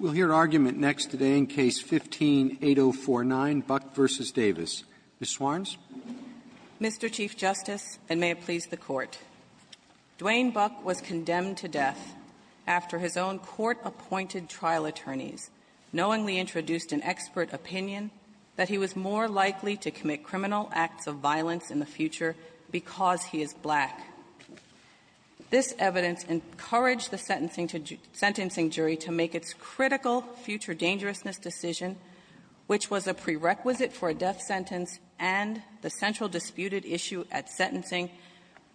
We'll hear argument next today in Case No. 15-8049, Buck v. Davis. Ms. Swarns. Mr. Chief Justice, and may it please the Court, Dwayne Buck was condemned to death after his own court-appointed trial attorneys knowingly introduced an expert opinion that he was more likely to commit criminal acts of violence in the future because he is black. This evidence encouraged the sentencing to do – sentencing jury to make its critical future dangerousness decision, which was a prerequisite for a death sentence and the central disputed issue at sentencing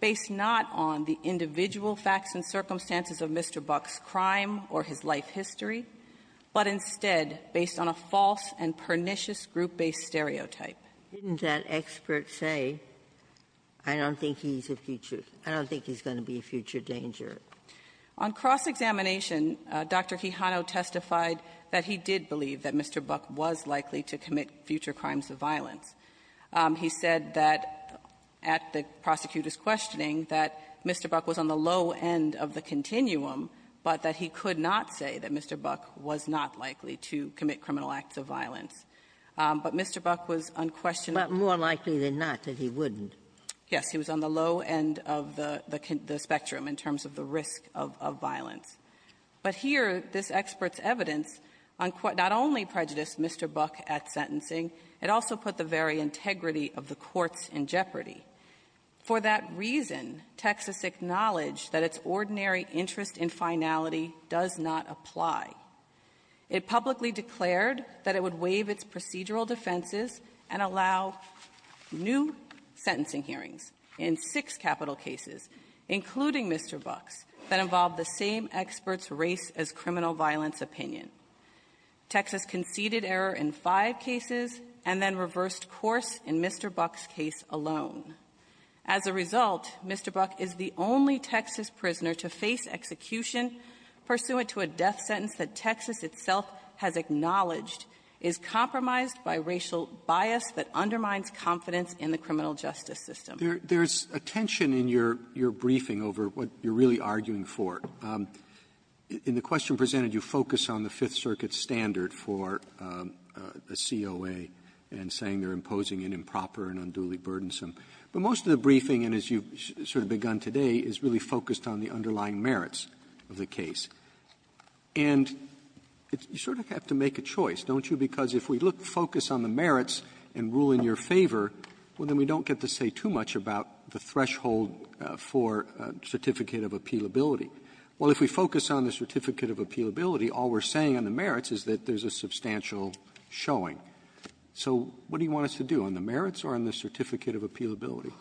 based not on the individual facts and circumstances of Mr. Buck's crime or his life history, but instead based on a false and pernicious group-based stereotype. Didn't that expert say, I don't think he's a future – I don't think he's going to be a future danger? On cross-examination, Dr. Kihano testified that he did believe that Mr. Buck was likely to commit future crimes of violence. He said that at the prosecutor's questioning that Mr. Buck was on the low end of the continuum, but that he could not say that Mr. Buck was not likely to commit criminal acts of violence. But Mr. Buck was unquestionably – But more likely than not that he wouldn't. Yes. He was on the low end of the – the spectrum in terms of the risk of violence. But here, this expert's evidence not only prejudiced Mr. Buck at sentencing, it also put the very integrity of the courts in jeopardy. For that reason, Texas acknowledged that its ordinary interest in finality does not apply. It publicly declared that it would waive its procedural defenses and allow new sentencing hearings in six capital cases, including Mr. Buck's, that involved the same expert's race-as-criminal-violence opinion. Texas conceded error in five cases and then reversed course in Mr. Buck's case alone. As a result, Mr. Buck is the only Texas prisoner to face execution pursuant to a death sentence that Texas itself has acknowledged is compromised by racial bias that undermines confidence in the criminal justice system. There's a tension in your briefing over what you're really arguing for. In the question presented, you focus on the Fifth Circuit standard for a COA and saying they're imposing an improper and unduly burdensome. But most of the briefing, and as you've sort of begun today, is really focused on the underlying merits of the And you sort of have to make a choice, don't you? Because if we look to focus on the merits and rule in your favor, well, then we don't get to say too much about the threshold for certificate of appealability. Well, if we focus on the certificate of appealability, all we're saying on the merits is that there's a substantial showing. So what do you want us to do, on the merits or on the certificate of appealability?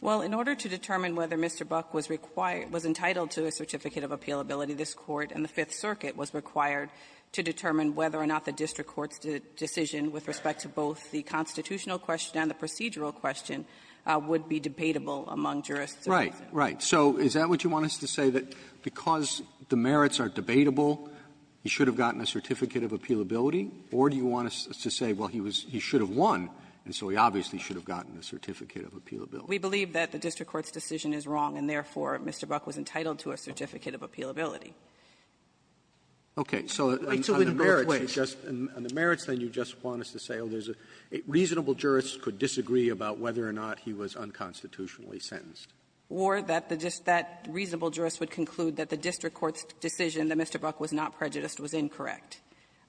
Well, in order to determine whether Mr. Buck was required to be entitled to a certificate of appealability, this Court and the Fifth Circuit was required to determine whether or not the district court's decision with respect to both the constitutional question and the procedural question would be debatable among jurists. Right. Right. So is that what you want us to say, that because the merits are debatable, he should have gotten a certificate of appealability? Or do you want us to say, well, he was he should have won, and so he obviously should have gotten a certificate of appealability? We believe that the district court's decision is wrong, and therefore, Mr. Buck was entitled to a certificate of appealability. Okay. So on the merits, you just – on the merits, then, you just want us to say, oh, there's a reasonable jurist could disagree about whether or not he was unconstitutionally sentenced. Or that the just that reasonable jurist would conclude that the district court's decision that Mr. Buck was not prejudiced was incorrect,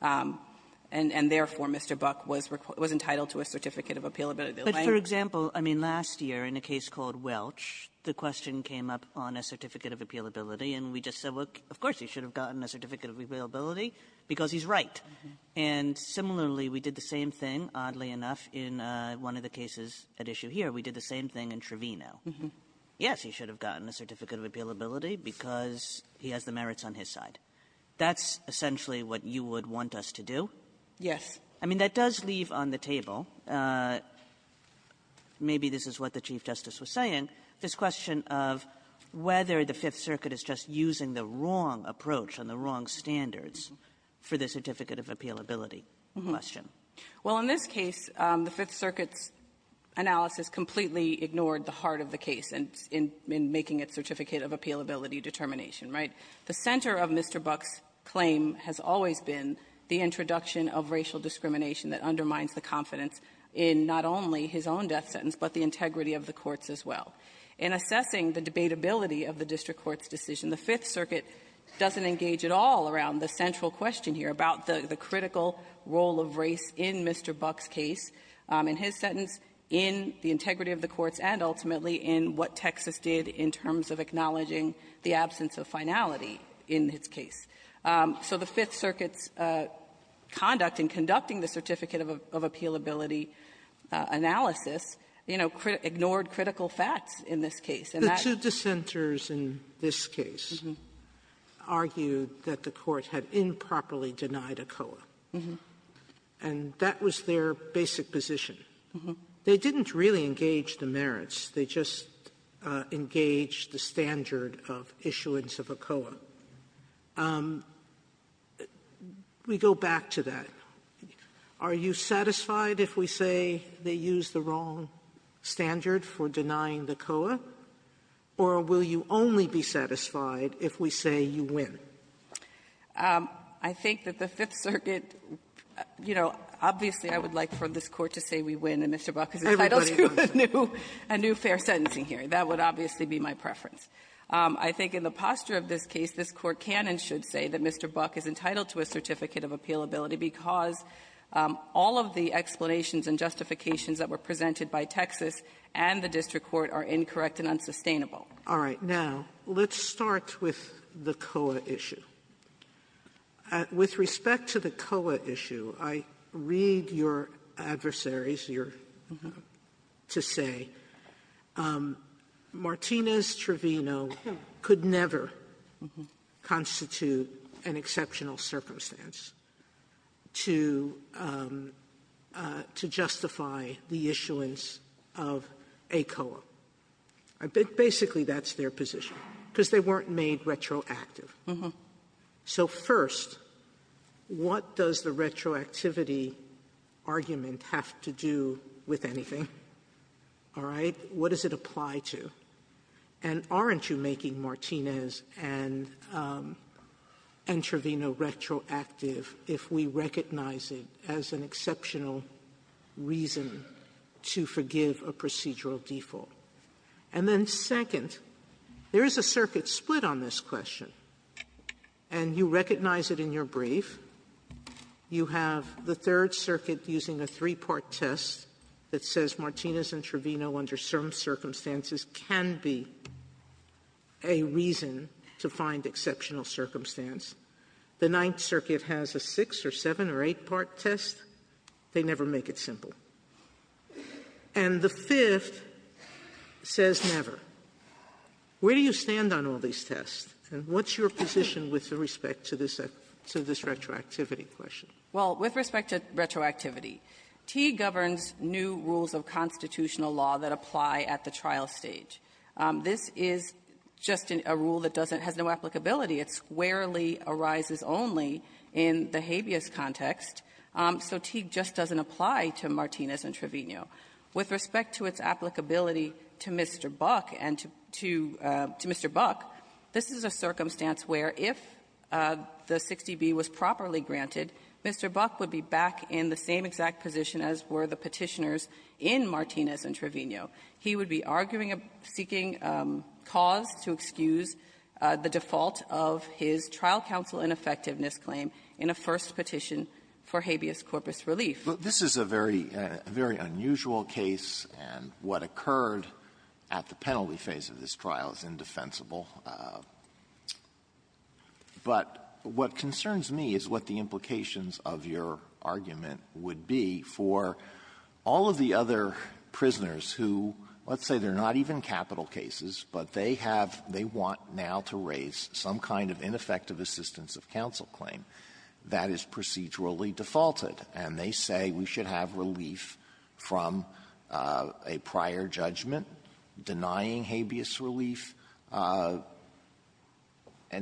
and therefore, Mr. Buck was entitled to a certificate of appealability. But for example, I mean, last year in a case called Welch, the question came up on a certificate of appealability, and we just said, well, of course, he should have gotten a certificate of appealability because he's right. And similarly, we did the same thing, oddly enough, in one of the cases at issue here. We did the same thing in Trevino. Yes, he should have gotten a certificate of appealability because he has the merits on his side. That's essentially what you would want us to do? Yes. I mean, that does leave on the table, maybe this is what the Chief Justice was saying, this question of whether the Fifth Circuit is just using the wrong approach and the wrong standards for the certificate of appealability question. Well, in this case, the Fifth Circuit's analysis completely ignored the heart of the case in making its certificate of appealability determination, right? The center of Mr. Buck's claim has always been the introduction of racial discrimination that undermines the confidence in not only his own death sentence, but the integrity of the courts as well. In assessing the debatability of the district court's decision, the Fifth Circuit doesn't engage at all around the central question here about the critical role of race in Mr. Buck's case, in his sentence, in the integrity of the courts, and ultimately in what Texas did in terms of acknowledging the absence of finality in his case. So the Fifth Circuit's conduct in conducting the certificate of appealability analysis, you know, ignored critical facts in this case, and that's why we're here. Sotomayor, the two dissenters in this case argued that the Court had improperly denied ACOA. And that was their basic position. They didn't really engage the merits. They just engaged the standard of issuance of ACOA. We go back to that. Are you satisfied if we say they used the wrong standard for denying the ACOA, or will you only be satisfied if we say you win? I think that the Fifth Circuit, you know, obviously I would like for this Court to say we win and Mr. Buck is entitled to a new fair sentencing hearing. That would obviously be my preference. I think in the posture of this case, this Court can and should say that Mr. Buck is entitled to a certificate of appealability because all of the explanations and justifications that were presented by Texas and the district court are incorrect and unsustainable. Sotomayor, let's start with the COA issue. With respect to the COA issue, I read your adversaries, your to say, Martinez-Trevino could never constitute an exceptional circumstance to justify the issuance of ACOA. I think basically that's their position, because they weren't made retroactive. So first, what does the retroactivity argument have to do with anything? All right? What does it apply to? And aren't you making Martinez and Entrevino retroactive if we recognize it as an exceptional reason to forgive a procedural default? And then second, there is a circuit split on this question, and you recognize it in your brief. You have the Third Circuit using a three-part test that says Martinez and Trevino under certain circumstances can be a reason to find exceptional circumstance. The Ninth Circuit has a six- or seven- or eight-part test. They never make it simple. And the Fifth says never. Where do you stand on all these tests? And what's your position with respect to this retroactivity question? Well, with respect to retroactivity, T governs new rules of constitutional law that apply at the trial stage. This is just a rule that doesn't has no applicability. It squarely arises only in the habeas context. So Teague just doesn't apply to Martinez and Trevino. With respect to its applicability to Mr. Buck and to Mr. Buck, this is a circumstance where if the 60B was properly granted, Mr. Buck would be back in the same exact position as were the Petitioners in Martinez and Trevino. He would be arguing a seeking cause to excuse the default of his trial counsel ineffectiveness claim in a first petition for habeas corpus relief. Alito, this is a very unusual case, and what occurred at the penalty phase of this trial is indefensible. But what concerns me is what the implications of your argument would be for all of the other prisoners who, let's say, they're not even capital cases, but they have they want now to raise some kind of ineffective assistance of counsel claim that is procedurally defaulted, and they say we should have relief from a prior judgment, denying habeas relief. And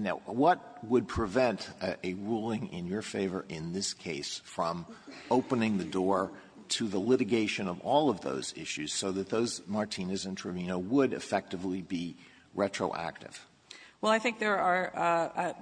now, what would prevent a ruling in your favor in this case from opening the door to the litigation of all of those issues so that those Martinez and Trevino would effectively be retroactive? Well, I think there are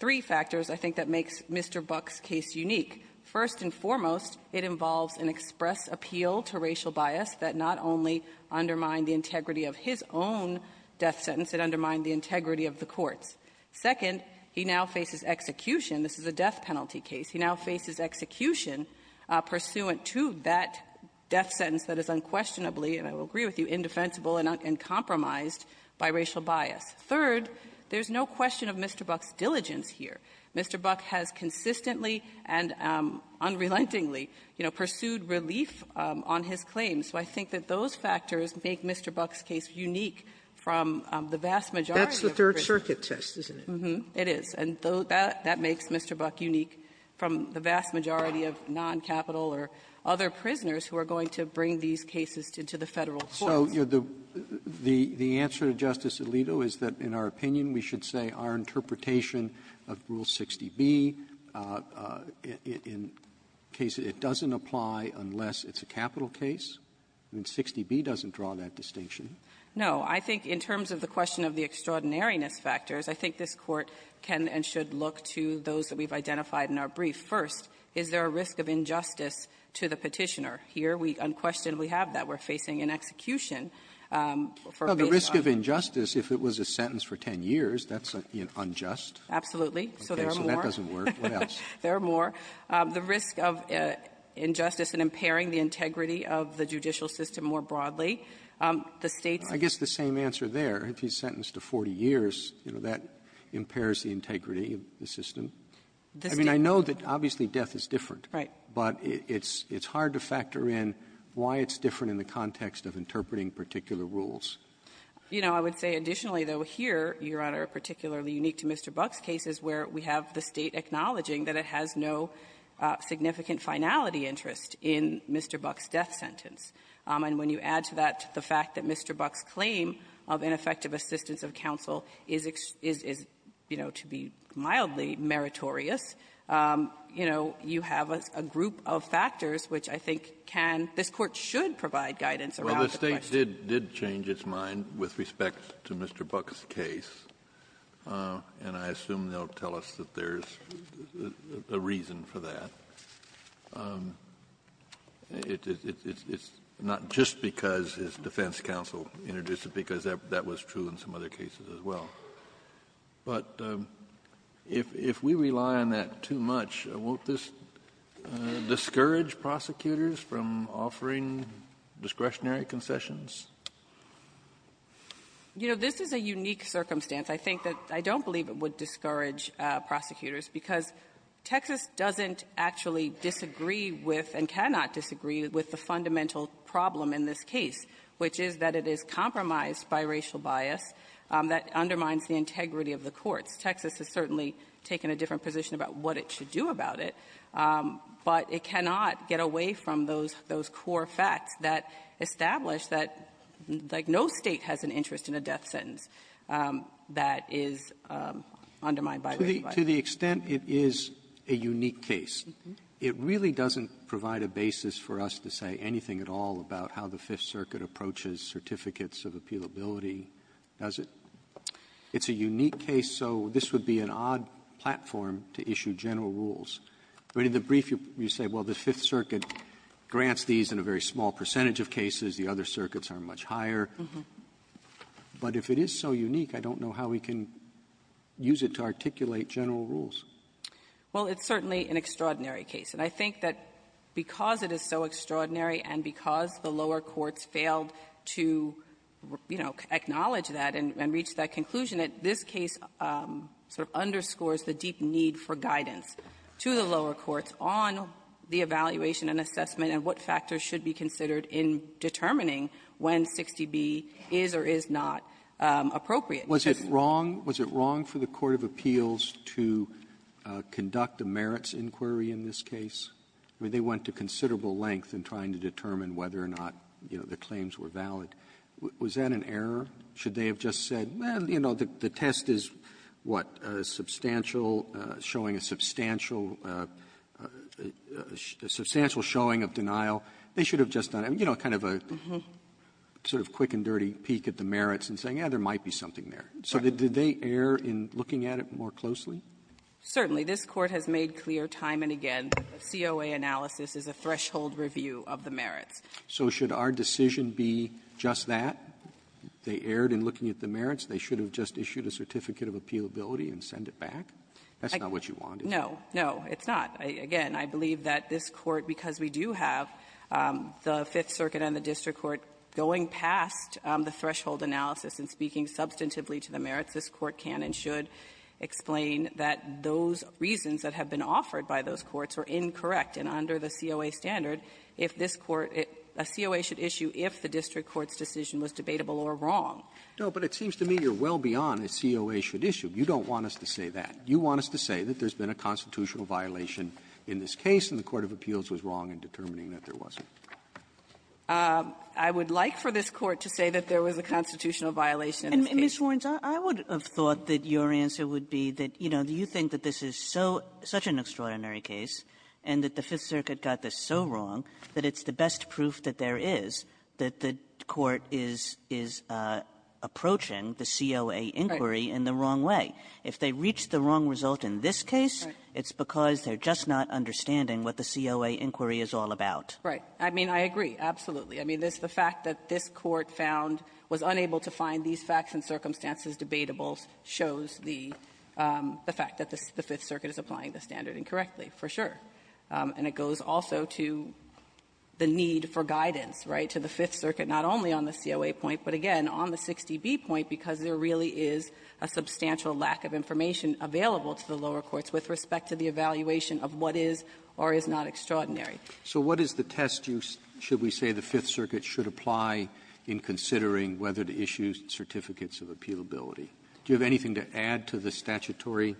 three factors, I think, that makes Mr. Buck's case unique. First and foremost, it involves an express appeal to racial bias that not only undermined the integrity of his own death sentence, it undermined the integrity of the court's. Second, he now faces execution. This is a death penalty case. He now faces execution pursuant to that death sentence that is unquestionably and I will agree with you, indefensible and compromised by racial bias. Third, there's no question of Mr. Buck's diligence here. Mr. Buck has consistently and unrelentingly, you know, pursued relief on his claims. So I think that those factors make Mr. Buck's case unique from the vast majority of prisoners. That's the Third Circuit test, isn't it? It is. And that makes Mr. Buck unique from the vast majority of noncapital or other prisoners who are going to bring these cases to the Federal courts. So the answer to Justice Alito is that, in our opinion, we should say our interpretation of Rule 60B, in case it doesn't apply unless it's a capital case? I mean, 60B doesn't draw that distinction. No. I think in terms of the question of the extraordinariness factors, I think this question of the court can and should look to those that we've identified in our brief. First, is there a risk of injustice to the Petitioner? Here, we unquestionably have that. We're facing an execution for a case of unjustice. Well, the risk of injustice, if it was a sentence for 10 years, that's unjust. Absolutely. So there are more. Okay. So that doesn't work. What else? There are more. The risk of injustice in impairing the integrity of the judicial system more broadly. The State's ---- I guess the same answer there. If he's sentenced to 40 years, you know, that impairs the integrity of the system. I mean, I know that, obviously, death is different. Right. But it's hard to factor in why it's different in the context of interpreting particular rules. You know, I would say additionally, though, here, Your Honor, particularly unique to Mr. Buck's case is where we have the State acknowledging that it has no significant finality interest in Mr. Buck's death sentence. And when you add to that the fact that Mr. Buck's claim of ineffective assistance of counsel is, you know, to be mildly meritorious, you know, you have a group of factors which I think can ---- this Court should provide guidance around the question. Well, the State did change its mind with respect to Mr. Buck's case, and I assume they'll tell us that there's a reason for that. It's not just because his defense counsel introduced it, because that was true in some other cases as well. But if we rely on that too much, won't this discourage prosecutors from offering discretionary concessions? You know, this is a unique circumstance. I think that I don't believe it would discourage prosecutors, because Texas doesn't actually disagree with and cannot disagree with the fundamental problem in this case, which is that it is compromised by racial bias that undermines the integrity of the courts. Texas has certainly taken a different position about what it should do about it, but it cannot get away from those core facts that establish that, like, no State has an interest in a death sentence that is undermined by racial bias. To the extent it is a unique case, it really doesn't provide a basis for us to say anything at all about how the Fifth Circuit approaches certificates of appealability, does it? It's a unique case, so this would be an odd platform to issue general rules. But in the brief, you say, well, the Fifth Circuit grants these in a very small percentage of cases. The other circuits are much higher. But if it is so unique, I don't know how we can use it to articulate general rules. Well, it's certainly an extraordinary case. And I think that because it is so extraordinary and because the lower courts failed to, you know, acknowledge that and reach that conclusion, that this case sort of underscores the deep need for guidance to the lower courts on the evaluation and assessment and what factors should be considered in determining when 60B is or is not appropriate. Robertson, was it wrong? Was it wrong for the court of appeals to conduct a merits inquiry in this case? I mean, they went to considerable length in trying to determine whether or not, you know, the claims were valid. Was that an error? Should they have just said, well, you know, the test is, what, substantial, showing a substantial, a substantial showing of denial. They should have just done, you know, kind of a sort of quick and dirty peek at the merits and saying, yeah, there might be something there. So did they err in looking at it more closely? Certainly. This Court has made clear time and again that the COA analysis is a threshold review of the merits. So should our decision be just that? They erred in looking at the merits. They should have just issued a certificate of appealability and sent it back? That's not what you wanted. No. No, it's not. Again, I believe that this Court, because we do have the Fifth Circuit and the district court going past the threshold analysis and speaking substantively to the merits, this Court can and should explain that those reasons that have been offered by those courts are incorrect. And under the COA standard, if this court at the COA should issue if the district court's decision was debatable or wrong. No, but it seems to me you're well beyond the COA should issue. You don't want us to say that. You want us to say that there's been a constitutional violation in this case and the court of appeals was wrong in determining that there wasn't. I would like for this Court to say that there was a constitutional violation in this case. And, Ms. Warnes, I would have thought that your answer would be that, you know, you think that this is so — such an extraordinary case and that the Fifth Circuit got this so wrong that it's the best proof that there is that the court is — is approaching the COA inquiry in the wrong way. Right. If they reached the wrong result in this case, it's because they're just not understanding what the COA inquiry is all about. Right. I mean, I agree. Absolutely. I mean, this — the fact that this Court found — was unable to find these facts and circumstances debatable shows the — the fact that the Fifth Circuit is applying the standard incorrectly, for sure. And it goes also to the need for guidance, right, to the Fifth Circuit, not only on the COA point, but again, on the 60B point, because there really is a substantial lack of information available to the lower courts with respect to the evaluation of what is or is not extraordinary. Roberts So what is the test you — should we say the Fifth Circuit should apply in considering whether to issue certificates of appealability? Do you have anything to add to the statutory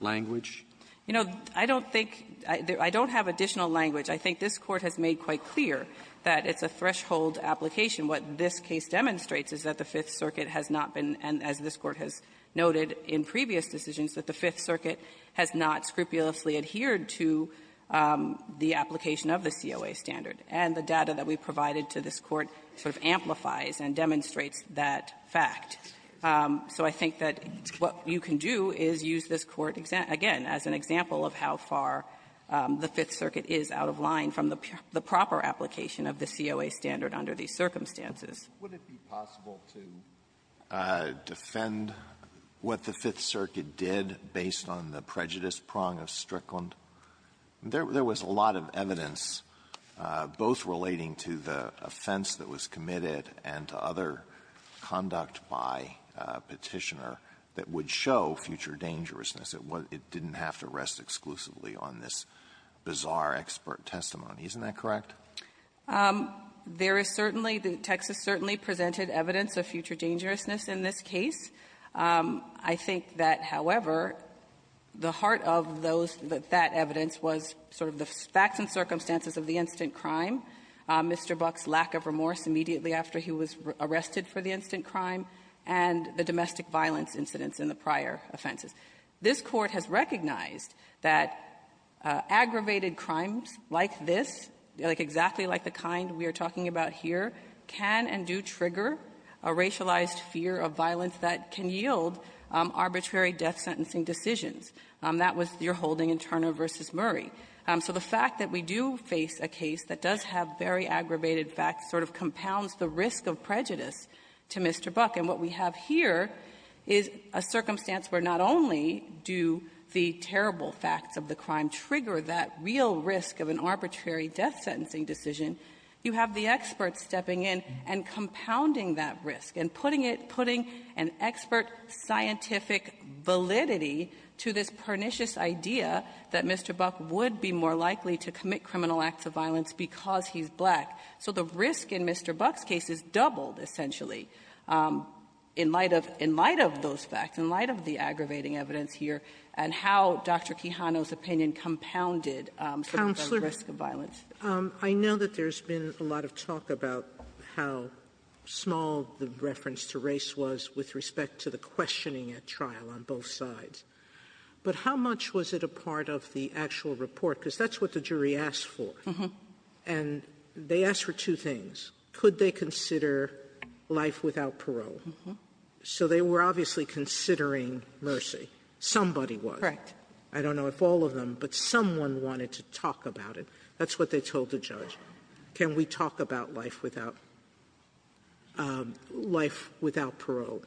language? You know, I don't think — I don't have additional language. I think this Court has made quite clear that it's a threshold application. has noted in previous decisions that the Fifth Circuit has not scrupulously adhered to the application of the COA standard. And the data that we provided to this Court sort of amplifies and demonstrates that fact. So I think that what you can do is use this Court, again, as an example of how far the Fifth Circuit is out of line from the proper application of the COA standard under these circumstances. Alitoson Would it be possible to defend what the Fifth Circuit did based on the prejudice prong of Strickland? There was a lot of evidence, both relating to the offense that was committed and to other conduct by Petitioner that would show future dangerousness. It didn't have to rest exclusively on this bizarre expert testimony. Isn't that correct? There is certainly — Texas certainly presented evidence of future dangerousness in this case. I think that, however, the heart of those — that evidence was sort of the facts and circumstances of the instant crime, Mr. Buck's lack of remorse immediately after he was arrested for the instant crime, and the domestic violence incidents in the prior offenses. This Court has recognized that aggravated crimes like this, like exactly like the kind we are talking about here, can and do trigger a racialized fear of violence that can yield arbitrary death-sentencing decisions. That was your holding in Turner v. Murray. So the fact that we do face a case that does have very aggravated facts sort of compounds the risk of prejudice to Mr. Buck. And what we have here is a circumstance where not only do the terrible facts of the death-sentencing decision, you have the experts stepping in and compounding that risk and putting it — putting an expert scientific validity to this pernicious idea that Mr. Buck would be more likely to commit criminal acts of violence because he's black. So the risk in Mr. Buck's case is doubled, essentially, in light of — in light of those facts, in light of the aggravating evidence here, and how Dr. Quijano's opinion compounded some of those risks of violence. Sotomayor, I know that there's been a lot of talk about how small the reference to race was with respect to the questioning at trial on both sides, but how much was it a part of the actual report? Because that's what the jury asked for. And they asked for two things. Could they consider life without parole? So they were obviously considering mercy. Somebody was. Correct. I don't know if all of them, but someone wanted to talk about it. That's what they told the judge. Can we talk about life without — life without parole?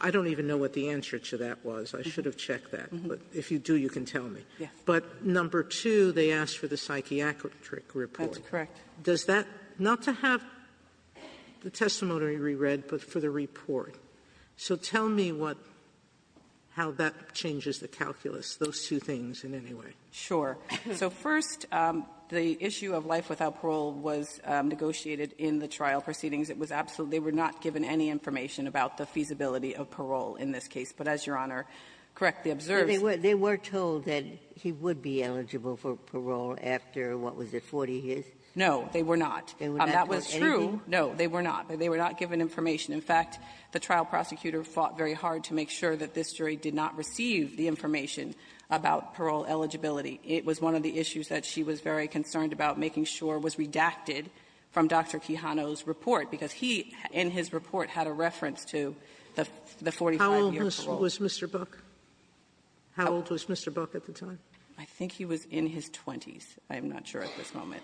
I don't even know what the answer to that was. I should have checked that. But if you do, you can tell me. Yes. But number two, they asked for the psychiatric report. That's correct. Does that — not to have the testimony reread, but for the report. So tell me what — how that changes the calculus, those two things in any way. Sure. So first, the issue of life without parole was negotiated in the trial proceedings. It was absolutely — they were not given any information about the feasibility of parole in this case. But as Your Honor correctly observed — They were told that he would be eligible for parole after, what was it, 40 years? No, they were not. They were not told anything? No, they were not. They were not given information. In fact, the trial prosecutor fought very hard to make sure that this jury did not receive the information about parole eligibility. It was one of the issues that she was very concerned about making sure was redacted from Dr. Quijano's report, because he, in his report, had a reference to the 45-year parole. How old was Mr. Buck? How old was Mr. Buck at the time? I think he was in his 20s. I am not sure at this moment.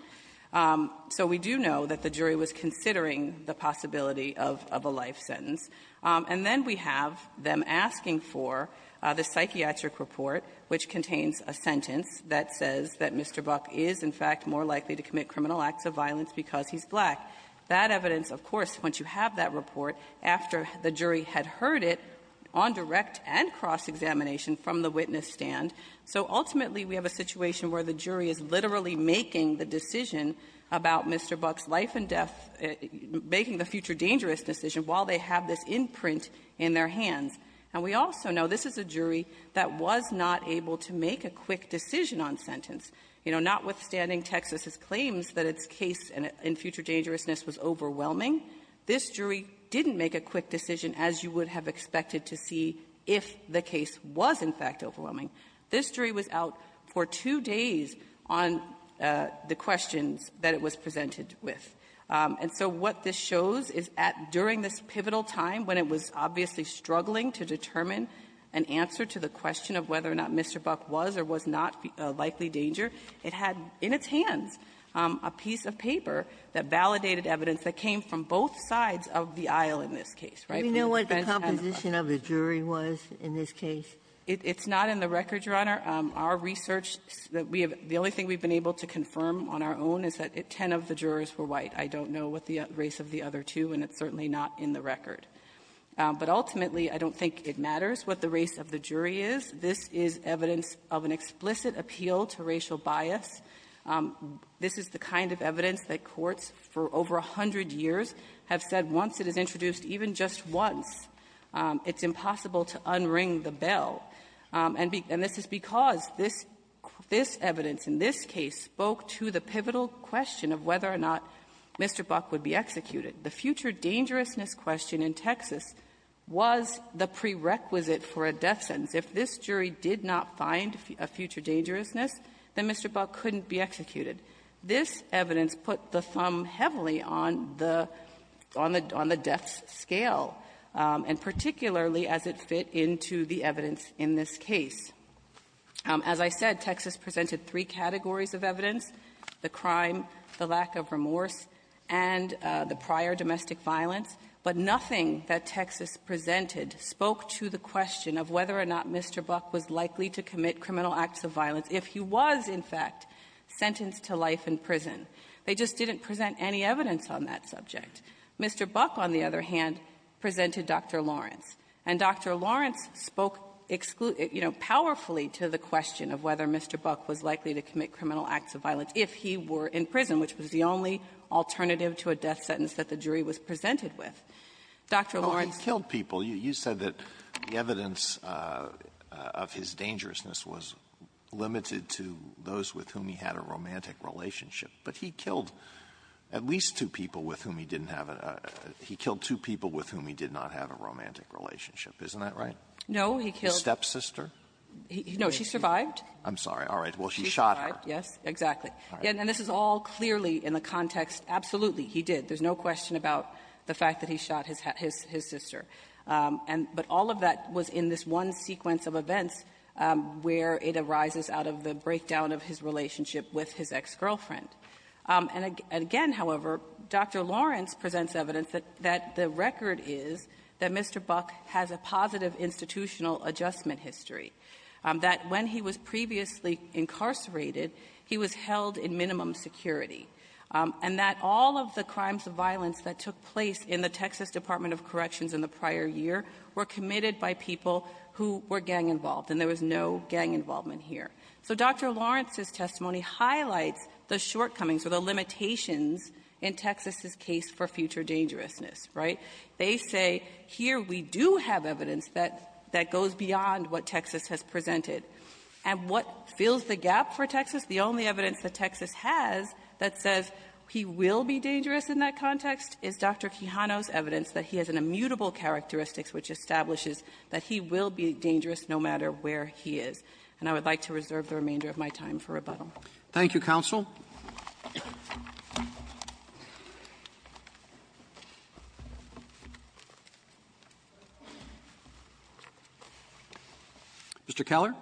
So we do know that the jury was considering the possibility of a life sentence. And then we have them asking for the psychiatric report, which contains a sentence that says that Mr. Buck is, in fact, more likely to commit criminal acts of violence because he's black. That evidence, of course, once you have that report, after the jury had heard it on direct and cross-examination from the witness stand. So ultimately, we have a situation where the jury is literally making the decision about Mr. Buck's life and death — making the future dangerous decision while they have this imprint in their hands. And we also know this is a jury that was not able to make a quick decision on sentence. You know, notwithstanding Texas's claims that its case in future dangerousness was overwhelming, this jury didn't make a quick decision as you would have expected to see if the case was, in fact, overwhelming. This jury was out for two days on the questions that it was presented with. And so what this shows is at — during this pivotal time when it was obviously struggling to determine an answer to the question of whether or not Mr. Buck was or was not a likely danger, it had in its hands a piece of paper that validated evidence that came from both sides of the aisle in this case, right? When the defense has a — Sotomayor, do you know what the composition of the jury was in this case? It's not in the record, Your Honor. Our research that we have — the only thing we've been able to confirm on our own is that ten of the jurors were white. I don't know what the race of the other two, and it's certainly not in the record. But ultimately, I don't think it matters what the race of the jury is. This is evidence of an explicit appeal to racial bias. This is the kind of evidence that courts for over a hundred years have said once it is introduced, even just once, it's impossible to unring the bell. And this is because this evidence in this case spoke to the pivotal question of whether or not Mr. Buck would be executed. The future dangerousness question in Texas was the prerequisite for a death sentence. If this jury did not find a future dangerousness, then Mr. Buck couldn't be executed. This evidence put the thumb heavily on the — on the death scale, and particularly as it fit into the evidence in this case. As I said, Texas presented three categories of evidence, the crime, the lack of remorse, and the prior domestic violence. But nothing that Texas presented spoke to the question of whether or not Mr. Buck was likely to commit criminal acts of violence if he was, in fact, sentenced to life in prison. They just didn't present any evidence on that subject. Mr. Buck, on the other hand, presented Dr. Lawrence. And Dr. Lawrence spoke, you know, powerfully to the question of whether Mr. Buck was likely to commit criminal acts of violence if he were in prison, which was the only alternative to a death sentence that the jury was presented with. Dr. Lawrence — Alitono, you said that the evidence of his dangerousness was limited to those with whom he had a romantic relationship, but he killed at least two people with whom he didn't have a — he killed two people with whom he did not have a romantic relationship. Isn't that right? No, he killed — His stepsister? No. She survived. I'm sorry. All right. Well, she shot her. Yes, exactly. And this is all clearly in the context — absolutely, he did. There's no question about the fact that he shot his — his sister. And — but all of that was in this one sequence of events where it arises out of the breakdown of his relationship with his ex-girlfriend. And again, however, Dr. Lawrence presents evidence that — that the record is that Mr. Buck has a positive institutional adjustment history, that when he was previously incarcerated, he was held in minimum security, and that all of the crimes of violence that took place in the Texas Department of Corrections in the prior year were committed by people who were gang-involved, and there was no gang involvement here. So Dr. Lawrence's testimony highlights the shortcomings or the limitations in Texas's case for future dangerousness, right? They say, here we do have evidence that — that goes beyond what Texas has presented. And what fills the gap for Texas, the only evidence that Texas has that says he will be dangerous in that context, is Dr. Quijano's evidence that he has an immutable characteristics which establishes that he will be dangerous no matter where he is. And I would like to reserve the remainder of my time for rebuttal. Roberts. Thank you, counsel. Mr. Keller. Keller.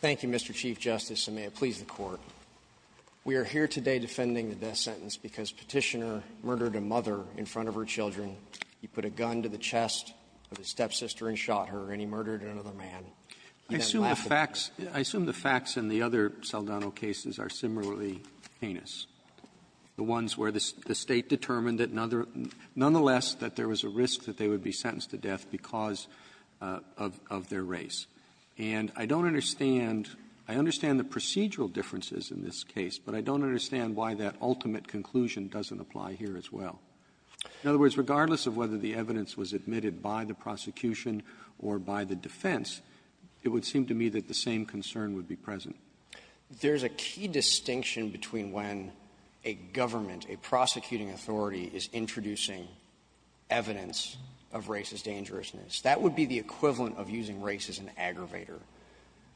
Thank you, Mr. Chief Justice, and may it please the Court. We are here today defending the death sentence because Petitioner murdered a mother in front of her children. He put a gun to the chest of his stepsister and shot her, and he murdered another man. Roberts. I assume the facts — I assume the facts in the other Saldano cases are similarly heinous, the ones where the State determined that another — nonetheless, that there was a risk that they would be sentenced to death because of their race. And I don't understand — I understand the procedural differences in this case, but I don't understand why that ultimate conclusion doesn't apply here as well. In other words, regardless of whether the evidence was admitted by the prosecution or by the defense, it would seem to me that the same concern would be present. Keller. There's a key distinction between when a government, a prosecuting authority, is introducing evidence of racist dangerousness. That would be the equivalent of using race as an aggravator.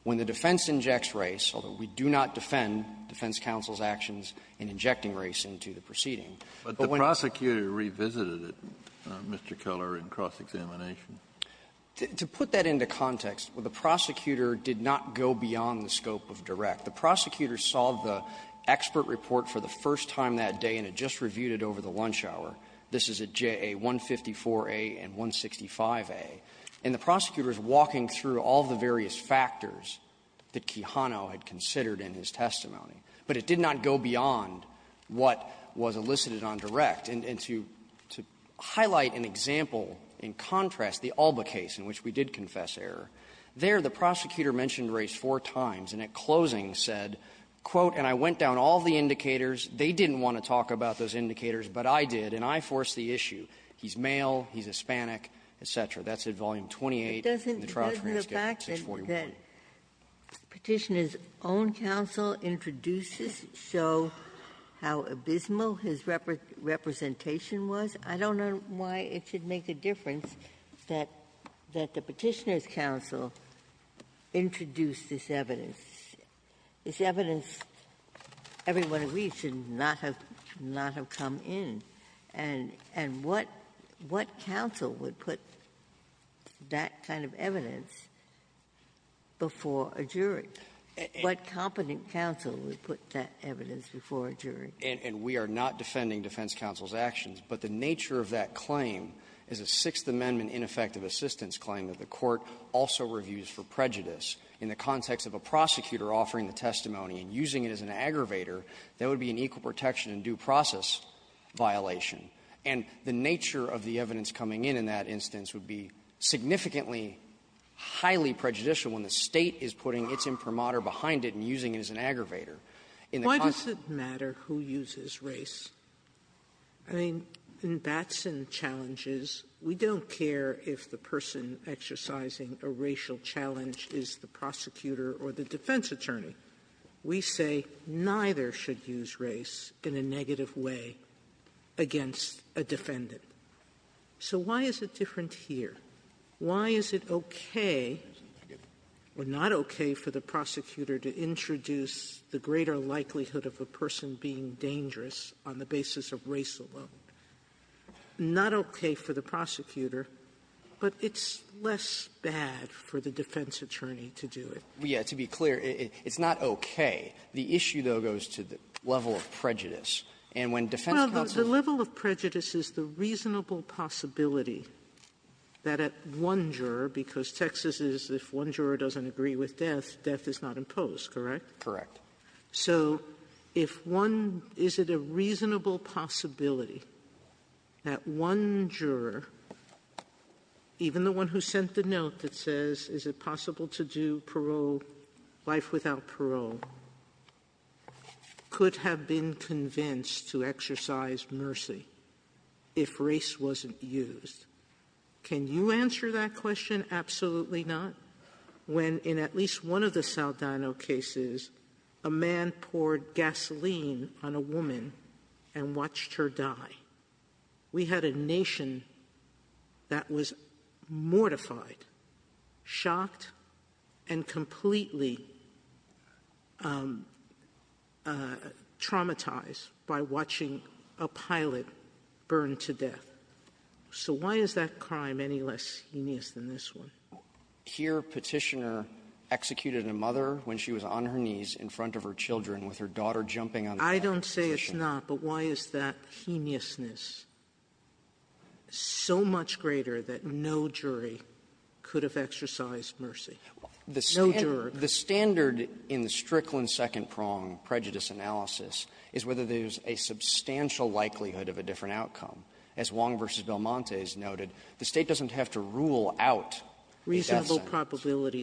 When the defense injects race, although we do not defend defense counsel's actions in injecting race into the proceeding, but when — Kennedy. The prosecutor revisited it, Mr. Keller, in cross-examination. To put that into context, the prosecutor did not go beyond the scope of direct. The prosecutor saw the expert report for the first time that day and had just reviewed it over the lunch hour. This is at JA-154A and 165A. And the prosecutor is walking through all the various factors that Quijano had considered in his testimony. But it did not go beyond what was elicited on direct. And to highlight an example in contrast, the Alba case in which we did confess error, there the prosecutor mentioned race four times and at closing said, quote, and I went down all the indicators. They didn't want to talk about those indicators, but I did. And I forced the issue. He's male. He's Hispanic, et cetera. That's at Volume 28 in the Trial Transcript 641. Ginsburg, that Petitioner's own counsel introduces, show how abysmal his representation was, I don't know why it should make a difference that the Petitioner's counsel introduced this evidence. This evidence, everyone reads, should not have come in. And what counsel would put that kind of evidence before a jury? What competent counsel would put that evidence before a jury? And we are not defending defense counsel's actions, but the nature of that claim is a Sixth Amendment ineffective assistance claim that the court also reviews for prejudice. In the context of a prosecutor offering the testimony and using it as an aggravator, that would be an equal protection and due process violation. And the nature of the evidence coming in in that instance would be significantly highly prejudicial when the State is putting its imprimatur behind it and using it as an aggravator. and due process violation. Sotomayor, why does it matter who uses race? I mean, in Batson challenges, we don't care if the person exercising a racial challenge is the prosecutor or the defense attorney. We say neither should use race in a negative way against a defendant. So why is it different here? Why is it okay or not okay for the prosecutor to introduce the greater likelihood of a person being dangerous on the basis of race alone? Not okay for the prosecutor, but it's less bad for the defense attorney to do it. Well, yeah. To be clear, it's not okay. The issue, though, goes to the level of prejudice. And when defense counsels do it, it's not okay. Well, the level of prejudice is the reasonable possibility that at one juror, because Texas is, if one juror doesn't agree with death, death is not imposed, correct? Correct. So if one — is it a reasonable possibility that one juror, even the one who sent the note that says, is it possible to do parole, life without parole, could have been convinced to exercise mercy if race wasn't used? Can you answer that question? Absolutely not. We had a time when, in at least one of the Saldano cases, a man poured gasoline on a woman and watched her die. We had a nation that was mortified, shocked, and completely traumatized by watching a pilot burn to death. So why is that crime any less heinous than this one? Here, Petitioner executed a mother when she was on her knees in front of her children with her daughter jumping on the ground. I don't say it's not. But why is that heinousness so much greater that no jury could have exercised mercy? No juror. The standard in the Strickland second-prong prejudice analysis is whether there's a substantial likelihood of a different outcome. As Wong v. Belmonte has noted, the State doesn't have to rule out the death sentence. Sotomayor, reasonable probability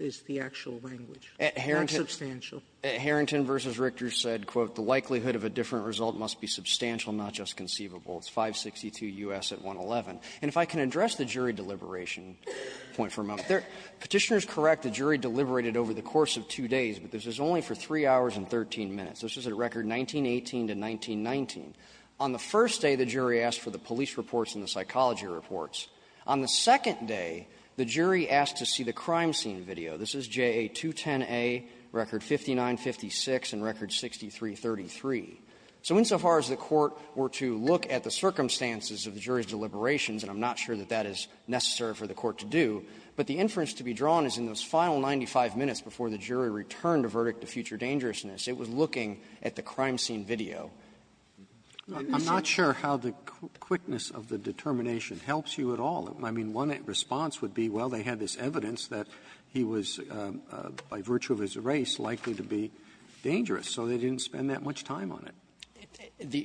is the actual language, not substantial. Harrington v. Richter said, quote, the likelihood of a different result must be substantial, not just conceivable. It's 562 U.S. at 111. And if I can address the jury deliberation point for a moment. Petitioner is correct. The jury deliberated over the course of two days, but this is only for three hours and 13 minutes. This is a record 1918 to 1919. On the first day, the jury asked for the police reports and the psychology reports. On the second day, the jury asked to see the crime scene video. This is JA210A, record 5956 and record 6333. So insofar as the Court were to look at the circumstances of the jury's deliberations and I'm not sure that that is necessary for the Court to do, but the inference to be drawn is in those final 95 minutes before the jury returned a verdict to future dangerousness. It was looking at the crime scene video. Robertson, I'm not sure how the quickness of the determination helps you at all. I mean, one response would be, well, they had this evidence that he was, by virtue of his race, likely to be dangerous, so they didn't spend that much time on it.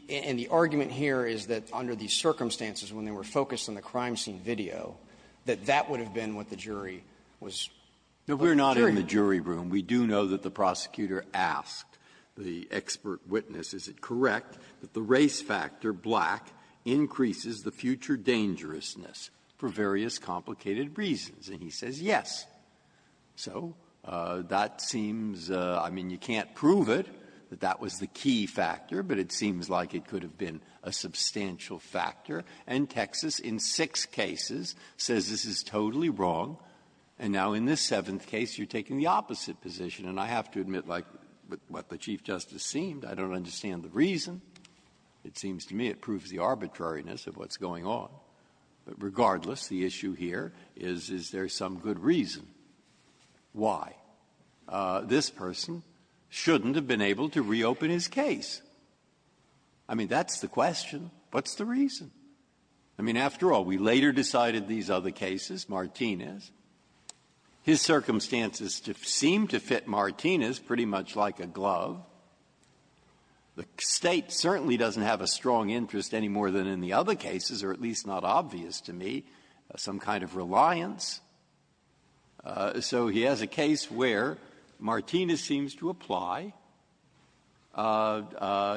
And the argument here is that under these circumstances, when they were focused on the crime scene video, that that would have been what the jury was going to do. Breyer, we're not in the jury room. We do know that the prosecutor asked the expert witness. Is it correct that the race factor, black, increases the future dangerousness for various complicated reasons? And he says yes. So that seems — I mean, you can't prove it, that that was the key factor, but it seems like it could have been a substantial factor. And Texas, in six cases, says this is totally wrong. And now in this seventh case, you're taking the opposite position. And I have to admit, like what the Chief Justice seemed, I don't understand the reason. It seems to me it proves the arbitrariness of what's going on. But regardless, the issue here is, is there some good reason why this person shouldn't have been able to reopen his case? I mean, that's the question. What's the reason? I mean, after all, we later decided these other cases, Martinez. His circumstances seem to fit Martinez pretty much like a glove. The State certainly doesn't have a strong interest any more than in the other cases, or at least not obvious to me, some kind of reliance. So he has a case where Martinez seems to apply.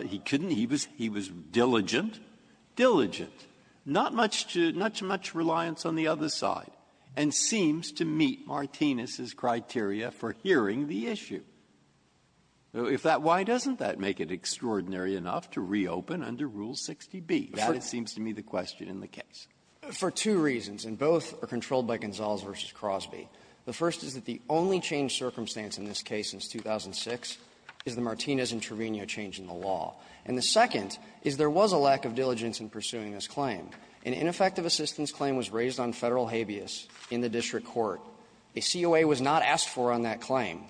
He couldn't. He was — he was diligent. Diligent. Not much to — not much reliance on the other side. And seems to meet Martinez's criteria for hearing the issue. If that — why doesn't that make it extraordinary enough to reopen under Rule 60B? That, it seems to me, the question in the case. For two reasons, and both are controlled by Gonzales v. Crosby. The first is that the only changed circumstance in this case since 2006 is the Martinez and Trevino change in the law. And the second is there was a lack of diligence in pursuing this claim. An ineffective assistance claim was raised on Federal habeas in the district court. A COA was not asked for on that claim.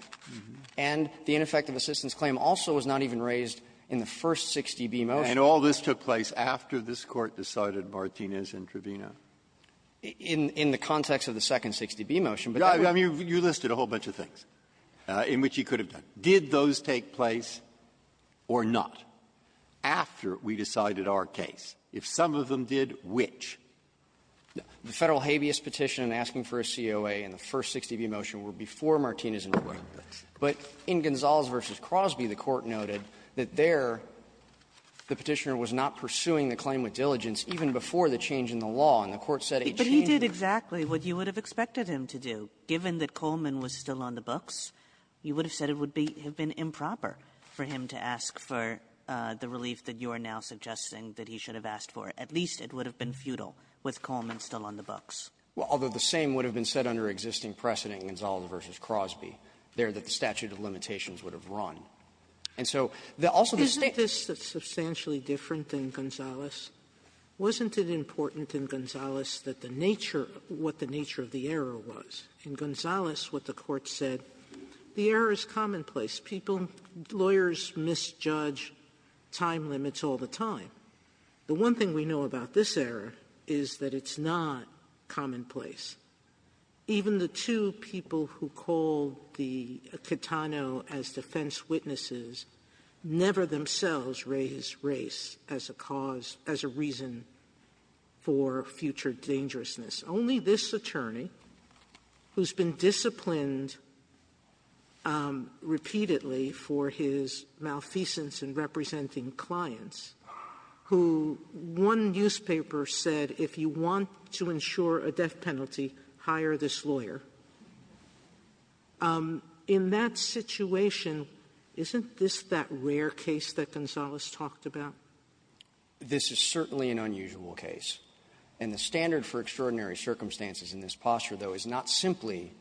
And the ineffective assistance claim also was not even raised in the first 60B motion. Breyer. And all this took place after this Court decided Martinez and Trevino? In the context of the second 60B motion. But that was — I mean, you listed a whole bunch of things in which he could have done. Did those take place or not after we decided our case? If some of them did, which? The Federal habeas petition and asking for a COA in the first 60B motion were before Martinez and Trevino. But in Gonzales v. Crosby, the Court noted that there, the Petitioner was not pursuing the claim with diligence even before the change in the law, and the Court said a change in the law. But he did exactly what you would have expected him to do. Given that Coleman was still on the books, you would have said it would be — have been improper for him to ask for the relief that you are now suggesting that he should have asked for. At least it would have been futile with Coleman still on the books. Well, although the same would have been said under existing precedent in Gonzales v. Crosby, there that the statute of limitations would have run. And so there also be — Isn't this substantially different than Gonzales? Wasn't it important in Gonzales that the nature — what the nature of the error was? In Gonzales, what the Court said, the error is commonplace. People — lawyers misjudge time limits all the time. The one thing we know about this error is that it's not commonplace. Even the two people who called the Catano as defense witnesses never themselves raised race as a cause — as a reason for future judgment. Sotomayor, this is a case of dangerousness. Only this attorney, who's been disciplined repeatedly for his malfeasance in representing clients, who one newspaper said, if you want to ensure a death penalty, hire this lawyer. In that situation, isn't this that rare case that Gonzales talked about? This is certainly an unusual case. And the standard for extraordinary circumstances in this posture, though, is not simply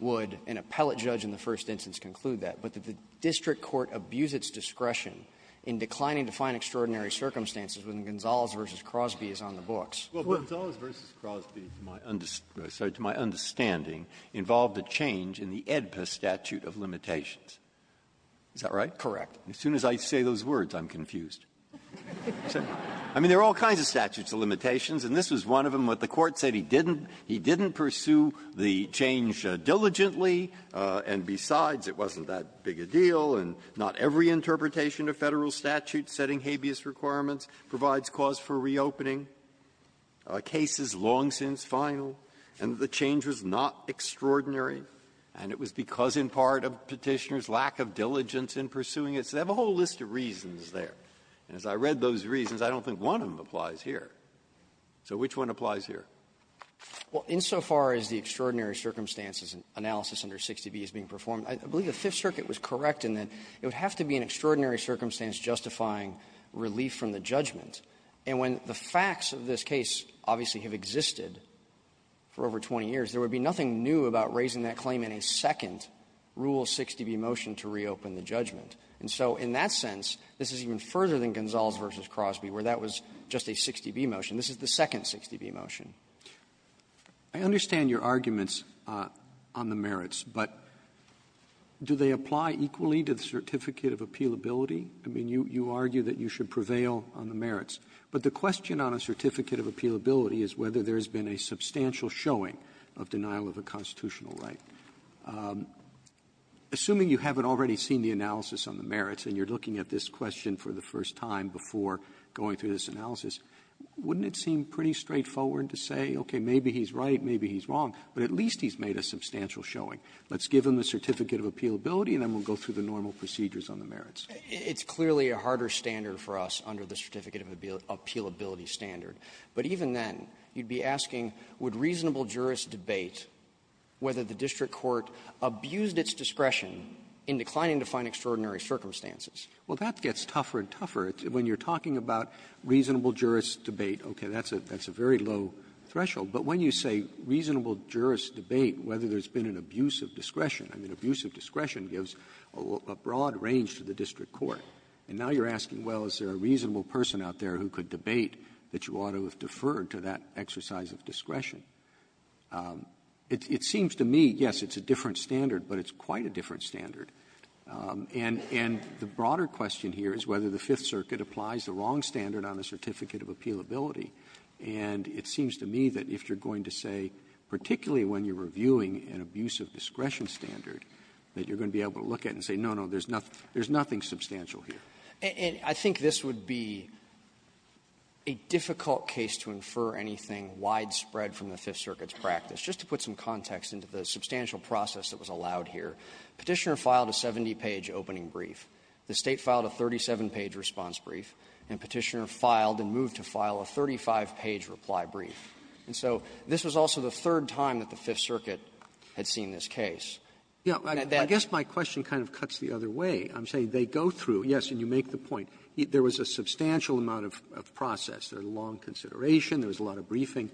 would an appellate judge in the first instance conclude that, but that the district court abused its discretion in declining to find extraordinary circumstances when Gonzales v. Crosby is on the books. Breyer, to my understanding, involved a change in the AEDPA statute of limitations. Is that right? Correct. As soon as I say those words, I'm confused. I mean, there are all kinds of statutes of limitations, and this was one of them. What the Court said, he didn't — he didn't pursue the change diligently, and besides, it wasn't that big a deal, and not every interpretation of Federal statute setting habeas requirements provides cause for reopening. A case is long since final, and the change was not extraordinary, and it was because of a significant part of Petitioner's lack of diligence in pursuing it. So they have a whole list of reasons there. And as I read those reasons, I don't think one of them applies here. So which one applies here? Well, insofar as the extraordinary circumstances analysis under 60B is being performed, I believe the Fifth Circuit was correct in that it would have to be an extraordinary circumstance justifying relief from the judgment. And when the facts of this case obviously have existed for over 20 years, there would be nothing new about raising that claim in a second rule 60B motion to reopen the judgment. And so in that sense, this is even further than Gonzales v. Crosby, where that was just a 60B motion. This is the second 60B motion. Roberts. I understand your arguments on the merits, but do they apply equally to the certificate of appealability? I mean, you argue that you should prevail on the merits. But the question on a certificate of appealability is whether there has been a substantial showing of denial of a constitutional right. Assuming you haven't already seen the analysis on the merits, and you're looking at this question for the first time before going through this analysis, wouldn't it seem pretty straightforward to say, okay, maybe he's right, maybe he's wrong, but at least he's made a substantial showing. Let's give him a certificate of appealability, and then we'll go through the normal procedures on the merits. It's clearly a harder standard for us under the certificate of appealability standard. But even then, you'd be asking, would reasonable jurists debate whether the district court abused its discretion in declining to find extraordinary circumstances? Roberts. Well, that gets tougher and tougher. When you're talking about reasonable jurists debate, okay, that's a very low threshold. But when you say reasonable jurists debate whether there's been an abuse of discretion, I mean, abuse of discretion gives a broad range to the district court. And now you're asking, well, is there a reasonable person out there who could debate that you ought to have deferred to that exercise of discretion? It seems to me, yes, it's a different standard, but it's quite a different standard. And the broader question here is whether the Fifth Circuit applies the wrong standard on a certificate of appealability. And it seems to me that if you're going to say, particularly when you're reviewing an abuse of discretion standard, that you're going to be able to look at it and say, no, no, there's nothing substantial here. And I think this would be a difficult case to infer anything widespread from the Fifth Circuit's practice. Just to put some context into the substantial process that was allowed here, Petitioner filed a 70-page opening brief. The State filed a 37-page response brief, and Petitioner filed and moved to file a 35-page reply brief. And so this was also the third time that the Fifth Circuit had seen this case. Robertson, I guess my question kind of cuts the other way. I'm saying they go through, yes, and you make the point. There was a substantial amount of process. There was a long consideration. There was a lot of briefing.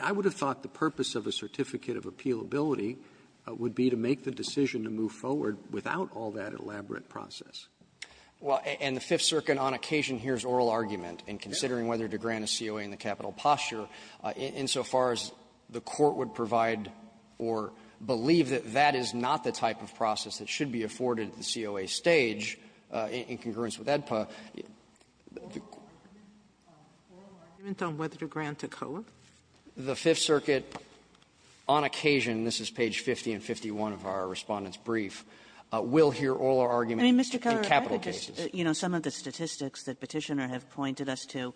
I would have thought the purpose of a certificate of appealability would be to make the decision to move forward without all that elaborate process. Well, and the Fifth Circuit on occasion hears oral argument in considering whether to grant a COA in the capital posture insofar as the court would provide or believe that that is not the type of process that should be afforded at the COA stage in congruence with AEDPA. The court would hear oral argument on whether to grant a COA? The Fifth Circuit, on occasion, this is page 50 and 51 of our Respondent's brief, will hear oral argument in capital cases. Kagan in Mr. Keller, you know, some of the statistics that Petitioner has pointed us to,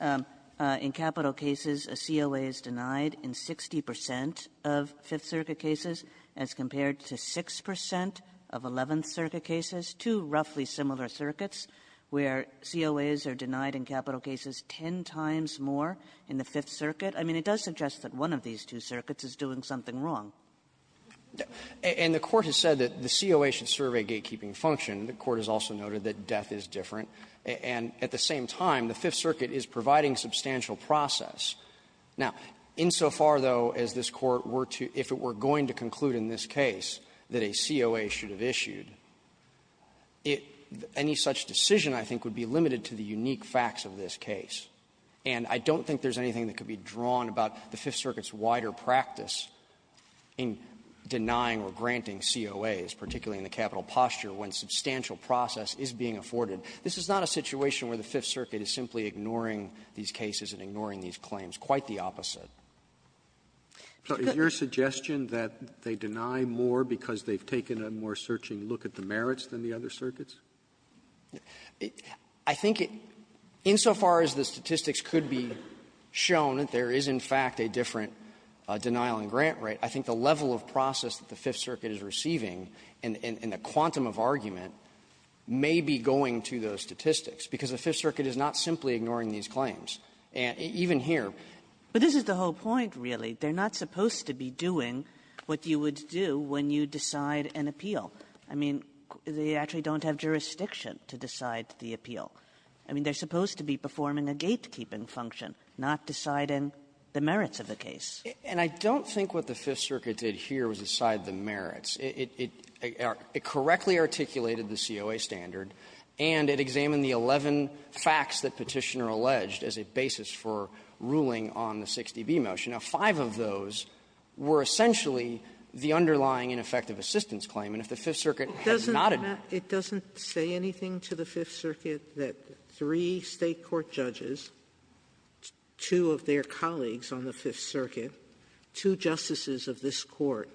in capital cases a COA is denied in 60 percent of Fifth Circuit cases as compared to 6 percent of Eleventh Circuit cases, two roughly similar circuits where COAs are denied in capital cases ten times more in the Fifth Circuit. I mean, it does suggest that one of these two circuits is doing something wrong. And the Court has said that the COA should serve a gatekeeping function. The Court has also noted that death is different. And at the same time, the Fifth Circuit is providing substantial process. Now, insofar, though, as this Court were to – if it were going to conclude in this case that a COA should have issued, it – any such decision, I think, would be limited to the unique facts of this case. And I don't think there's anything that could be drawn about the Fifth Circuit's wider practice in denying or granting COAs, particularly in the capital posture, when substantial process is being afforded. This is not a situation where the Fifth Circuit is simply ignoring these cases and ignoring these claims. Quite the opposite. Robertson, is your suggestion that they deny more because they've taken a more searching look at the merits than the other circuits? I think it – insofar as the statistics could be shown, there is, in fact, a different denial-and-grant rate. I think the level of process that the Fifth Circuit is receiving in – in the quantum of argument may be going to those statistics, because the Fifth Circuit is not simply ignoring these claims, even here. But this is the whole point, really. They're not supposed to be doing what you would do when you decide an appeal. I mean, they actually don't have jurisdiction to decide the appeal. I mean, they're supposed to be performing a gatekeeping function, not deciding the merits of the case. It – it – it correctly articulated the COA standard, and it examined the 11 facts that Petitioner alleged as a basis for ruling on the 6dB motion. Now, five of those were essentially the underlying ineffective assistance claim. And if the Fifth Circuit has not admitted to that, it doesn't say anything to the Fifth Circuit that three State court judges, two of their colleagues on the Fifth Circuit, two justices of this Court,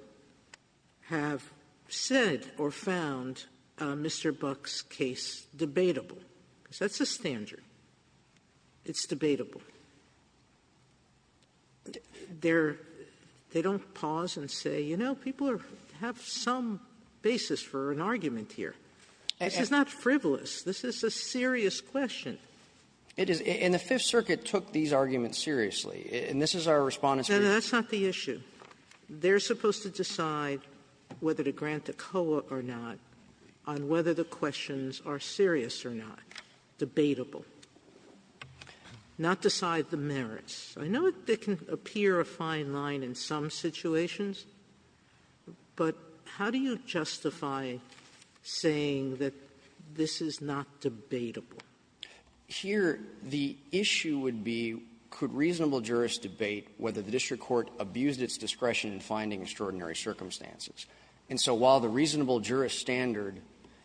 have said or found Mr. Buck's case debatable, because that's a standard. It's debatable. They're – they don't pause and say, you know, people are – have some basis for an argument here. This is not frivolous. This is a serious question. It is – and the Fifth Circuit took these arguments seriously, and this is our Respondent's view. Sotomayor, that's not the issue. They're supposed to decide whether to grant the COA or not on whether the questions are serious or not, debatable, not decide the merits. I know it can appear a fine line in some situations, but how do you justify saying that this is not debatable? Here, the issue would be, could reasonable jurists debate whether the district court abused its discretion in finding extraordinary circumstances? And so while the reasonable jurist standard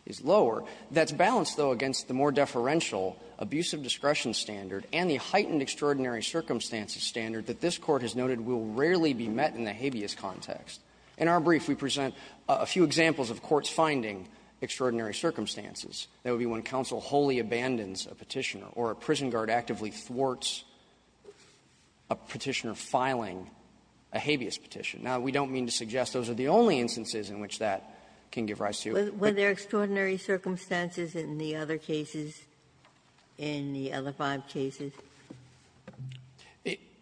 is lower, that's balanced, though, against the more deferential abusive discretion standard and the heightened extraordinary circumstances standard that this Court has noted will rarely be met in the habeas context. In our brief, we present a few examples of courts finding extraordinary circumstances. That would be when counsel wholly abandons a Petitioner, or a prison guard actively thwarts a Petitioner filing a habeas petition. Now, we don't mean to suggest those are the only instances in which that can give rise to. Ginsburg. Were there extraordinary circumstances in the other cases, in the other five cases?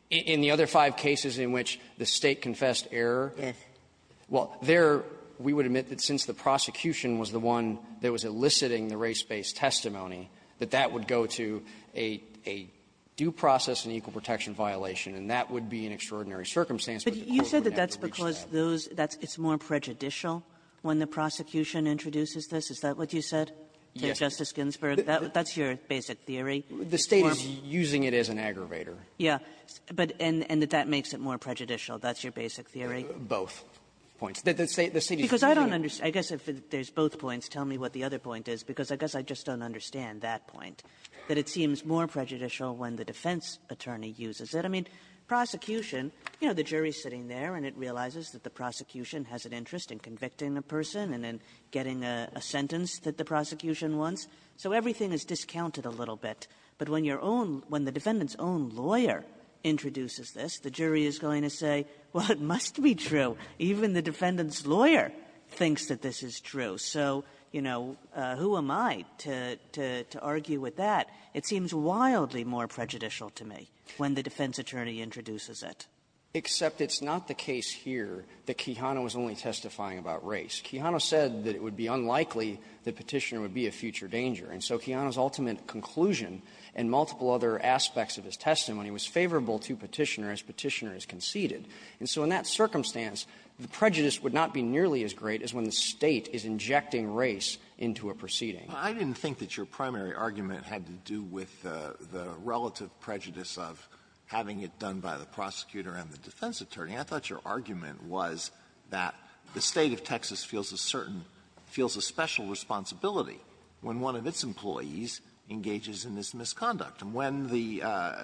In the other five cases in which the State confessed error? Yes. Well, there, we would admit that since the prosecution was the one that was eliciting the race-based testimony, that that would go to a due process and equal protection violation, and that would be an extraordinary circumstance, but the Court would never reach that. But you said that that's because those that's more prejudicial when the prosecution introduces this? Is that what you said to Justice Ginsburg? Yes. That's your basic theory? The State is using it as an aggravator. Yeah. But and that that makes it more prejudicial. That's your basic theory? Both points. The State is using it. Because I don't understand. I guess if there's both points, tell me what the other point is, because I guess I just don't understand that point, that it seems more prejudicial when the defense attorney uses it. I mean, prosecution, you know, the jury is sitting there, and it realizes that the prosecution has an interest in convicting a person and in getting a sentence that the prosecution wants. So everything is discounted a little bit. But when your own – when the defendant's own lawyer introduces this, the jury is going to say, well, it must be true. Even the defendant's lawyer thinks that this is true. So, you know, who am I to – to argue with that? It seems wildly more prejudicial to me when the defense attorney introduces it. Except it's not the case here that Quijano was only testifying about race. Quijano said that it would be unlikely that Petitioner would be a future danger. And so Quijano's ultimate conclusion and multiple other aspects of his testimony was favorable to Petitioner as Petitioner has conceded. And so in that circumstance, the prejudice would not be nearly as great as when the State is injecting race into a proceeding. Alitoso, I didn't think that your primary argument had to do with the relative prejudice of having it done by the prosecutor and the defense attorney. I thought your argument was that the State of Texas feels a certain – feels a special responsibility when one of its employees engages in this misconduct. And when the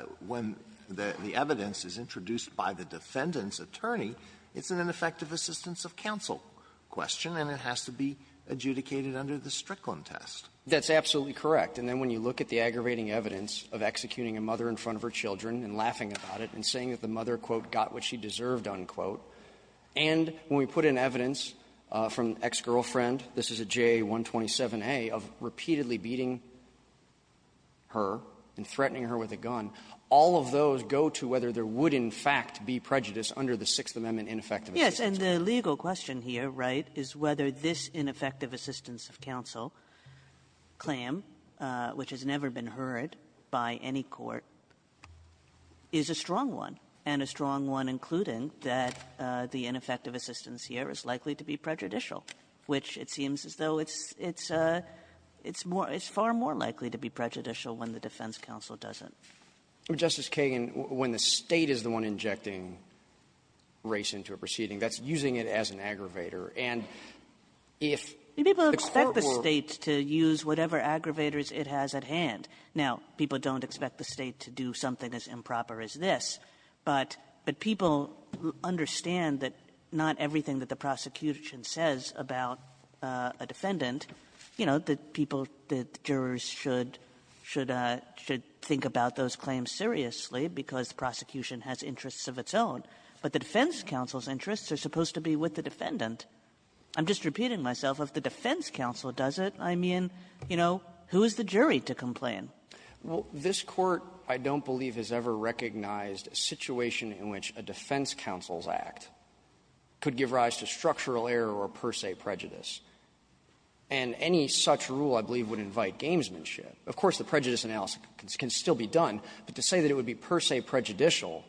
– when the evidence is introduced by the defendant's attorney, it's an ineffective assistance of counsel question, and it has to be adjudicated under the Strickland test. That's absolutely correct. And then when you look at the aggravating evidence of executing a mother in front of her children and laughing about it and saying that the mother, quote, got what she deserved, unquote, and when we put in evidence from ex-girlfriend this is a JA-127A, of repeatedly beating her and threatening her with a gun, all of those go to whether there would, in fact, be prejudice under the Sixth Amendment ineffective assistance. Yes. And the legal question here, right, is whether this ineffective assistance of counsel claim, which has never been heard by any court, is a strong one, and a strong one including that the ineffective assistance here is likely to be prejudicial, which it seems as though it's – it's more – it's far more likely to be prejudicial when the defense counsel doesn't. Justice Kagan, when the State is the one injecting race into a proceeding, that's using it as an aggravator. And if the court were to – People expect the State to use whatever aggravators it has at hand. Now, people don't expect the State to do something as improper as this, but – but people understand that not everything that the prosecution says about a defendant, you know, that people, that jurors should – should – should think about those claims seriously because the prosecution has interests of its own. But the defense counsel's interests are supposed to be with the defendant. I'm just repeating myself. If the defense counsel does it, I mean, you know, who is the jury to complain? Well, this Court, I don't believe, has ever recognized a situation in which a defense counsel's act could give rise to structural error or per se prejudice. And any such rule, I believe, would invite gamesmanship. Of course, the prejudice analysis can still be done, but to say that it would be per se prejudicial,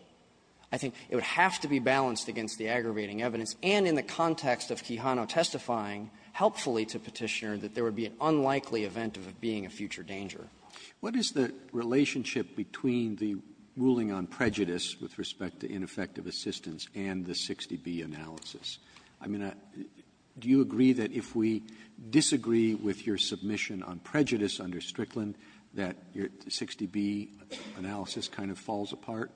I think it would have to be balanced against the aggravating evidence and in the context of Kihano testifying helpfully to Petitioner that there would be an unlikely event of it being a future danger. Roberts. What is the relationship between the ruling on prejudice with respect to ineffective assistance and the 60B analysis? I mean, do you agree that if we disagree with your submission on prejudice under Strickland that your 60B analysis kind of falls apart?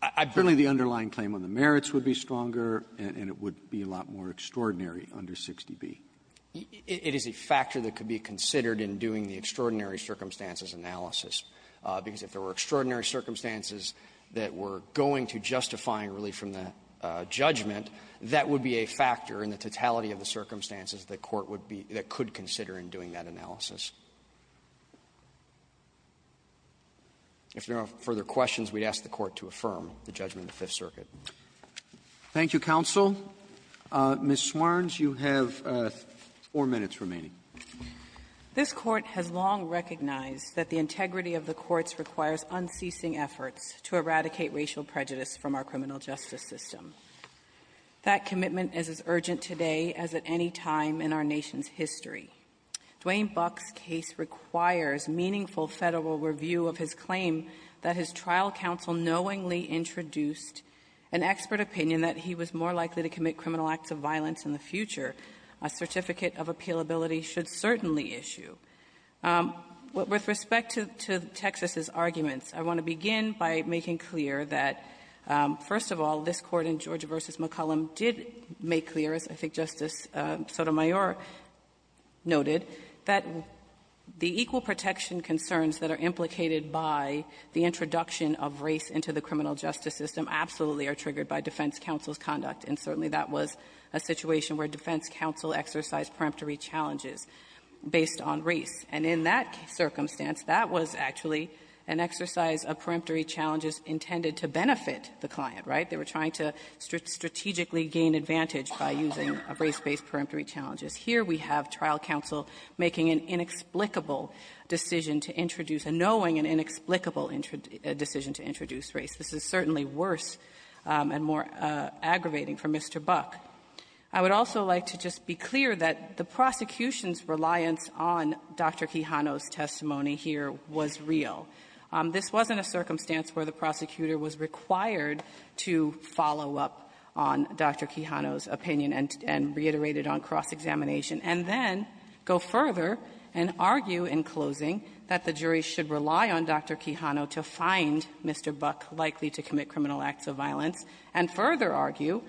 I believe the underlying claim on the merits would be stronger and it would be a lot more extraordinary under 60B. It is a factor that could be considered in doing the extraordinary circumstances analysis, because if there were extraordinary circumstances that were going to justify relief from the judgment, that would be a factor in the totality of the circumstances the Court would be that could consider in doing that analysis. If there are no further questions, we'd ask the Court to affirm the judgment of the Fifth Circuit. Roberts. Thank you, counsel. Ms. Swerns, you have four minutes remaining. Swerns. This Court has long recognized that the integrity of the courts requires unceasing efforts to eradicate racial prejudice from our criminal justice system. That commitment is as urgent today as at any time in our nation's history. Dwayne Buck's case requires meaningful Federal review of his claim that his trial counsel knowingly introduced an expert opinion that he was more likely to commit criminal acts of violence in the future. A certificate of appealability should certainly issue. With respect to Texas's arguments, I want to begin by making clear that, first of all, this Court in Georgia v. McCollum did make clear, as I think Justice Sotomayor noted, that the equal protection concerns that are implicated by the introduction of race into the criminal justice system absolutely are triggered by defense counsel's conduct, and certainly that was a situation where defense counsel exercised peremptory challenges based on race. And in that circumstance, that was actually an exercise of peremptory challenges intended to benefit the client, right? They were trying to strategically gain advantage by using race-based peremptory challenges. Here we have trial counsel making an inexplicable decision to introduce a knowing and inexplicable decision to introduce race. This is certainly worse and more aggravating for Mr. Buck. I would also like to just be clear that the prosecution's reliance on Dr. Quijano's testimony here was real. This wasn't a circumstance where the prosecutor was required to follow up on Dr. Quijano's opinion and reiterated on cross-examination, and then go further and argue in closing that the jury should rely on Dr. Quijano to find Mr. Buck likely to commit criminal acts of violence, and further argue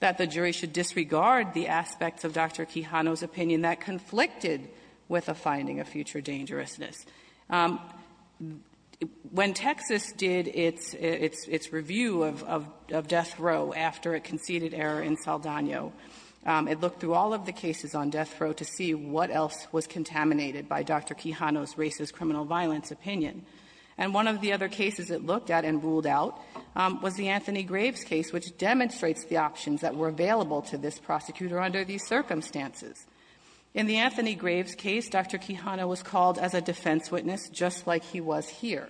that the jury should disregard the aspects of Dr. Quijano's opinion that conflicted with a finding of future dangerousness. When Texas did its review of death row after a conceded error in Saldana, it looked through all of the cases on death row to see what else was contaminated by Dr. Quijano's race as criminal violence opinion. And one of the other cases it looked at and ruled out was the Anthony Graves case, which demonstrates the options that were available to this prosecutor under these circumstances. In the Anthony Graves case, Dr. Quijano was called as a defense witness, just like he was here.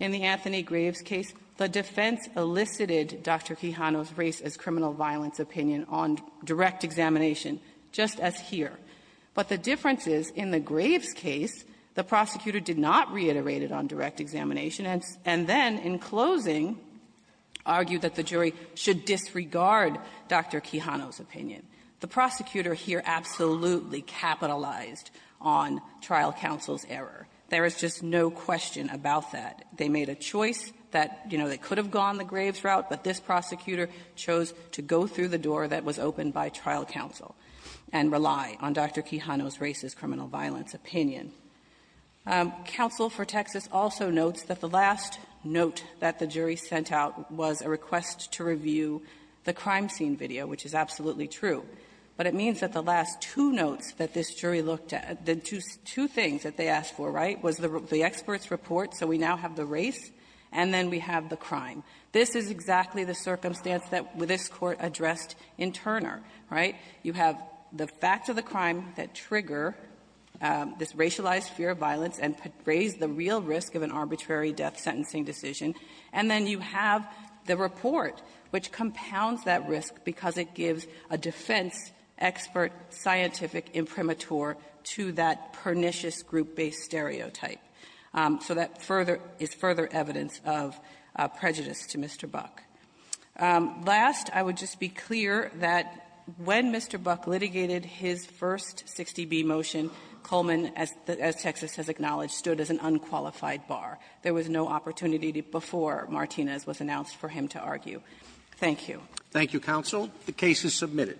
In the Anthony Graves case, the defense elicited Dr. Quijano's race as criminal violence opinion on direct examination, just as here. But the difference is, in the Graves case, the prosecutor did not reiterate it on direct examination and then, in closing, argued that the jury should disregard Dr. Quijano's opinion. The prosecutor here absolutely capitalized on trial counsel's error. There is just no question about that. They made a choice that, you know, they could have gone the Graves route, but this prosecutor chose to go through the door that was open to Dr. Quijano's race as criminal violence opinion. Counsel for Texas also notes that the last note that the jury sent out was a request to review the crime scene video, which is absolutely true. But it means that the last two notes that this jury looked at, the two things that they asked for, right, was the expert's report, so we now have the race, and then we have the crime. This is exactly the crime that trigger this racialized fear of violence and raise the real risk of an arbitrary death sentencing decision. And then you have the report, which compounds that risk because it gives a defense expert scientific imprimatur to that pernicious group-based stereotype. So that further – is further evidence of prejudice to Mr. Buck. Last, I would just be clear that when Mr. Buck litigated his first 60B motion, Coleman, as Texas has acknowledged, stood as an unqualified bar. There was no opportunity before Martinez was announced for him to argue. Thank you. Roberts. Thank you, counsel. The case is submitted.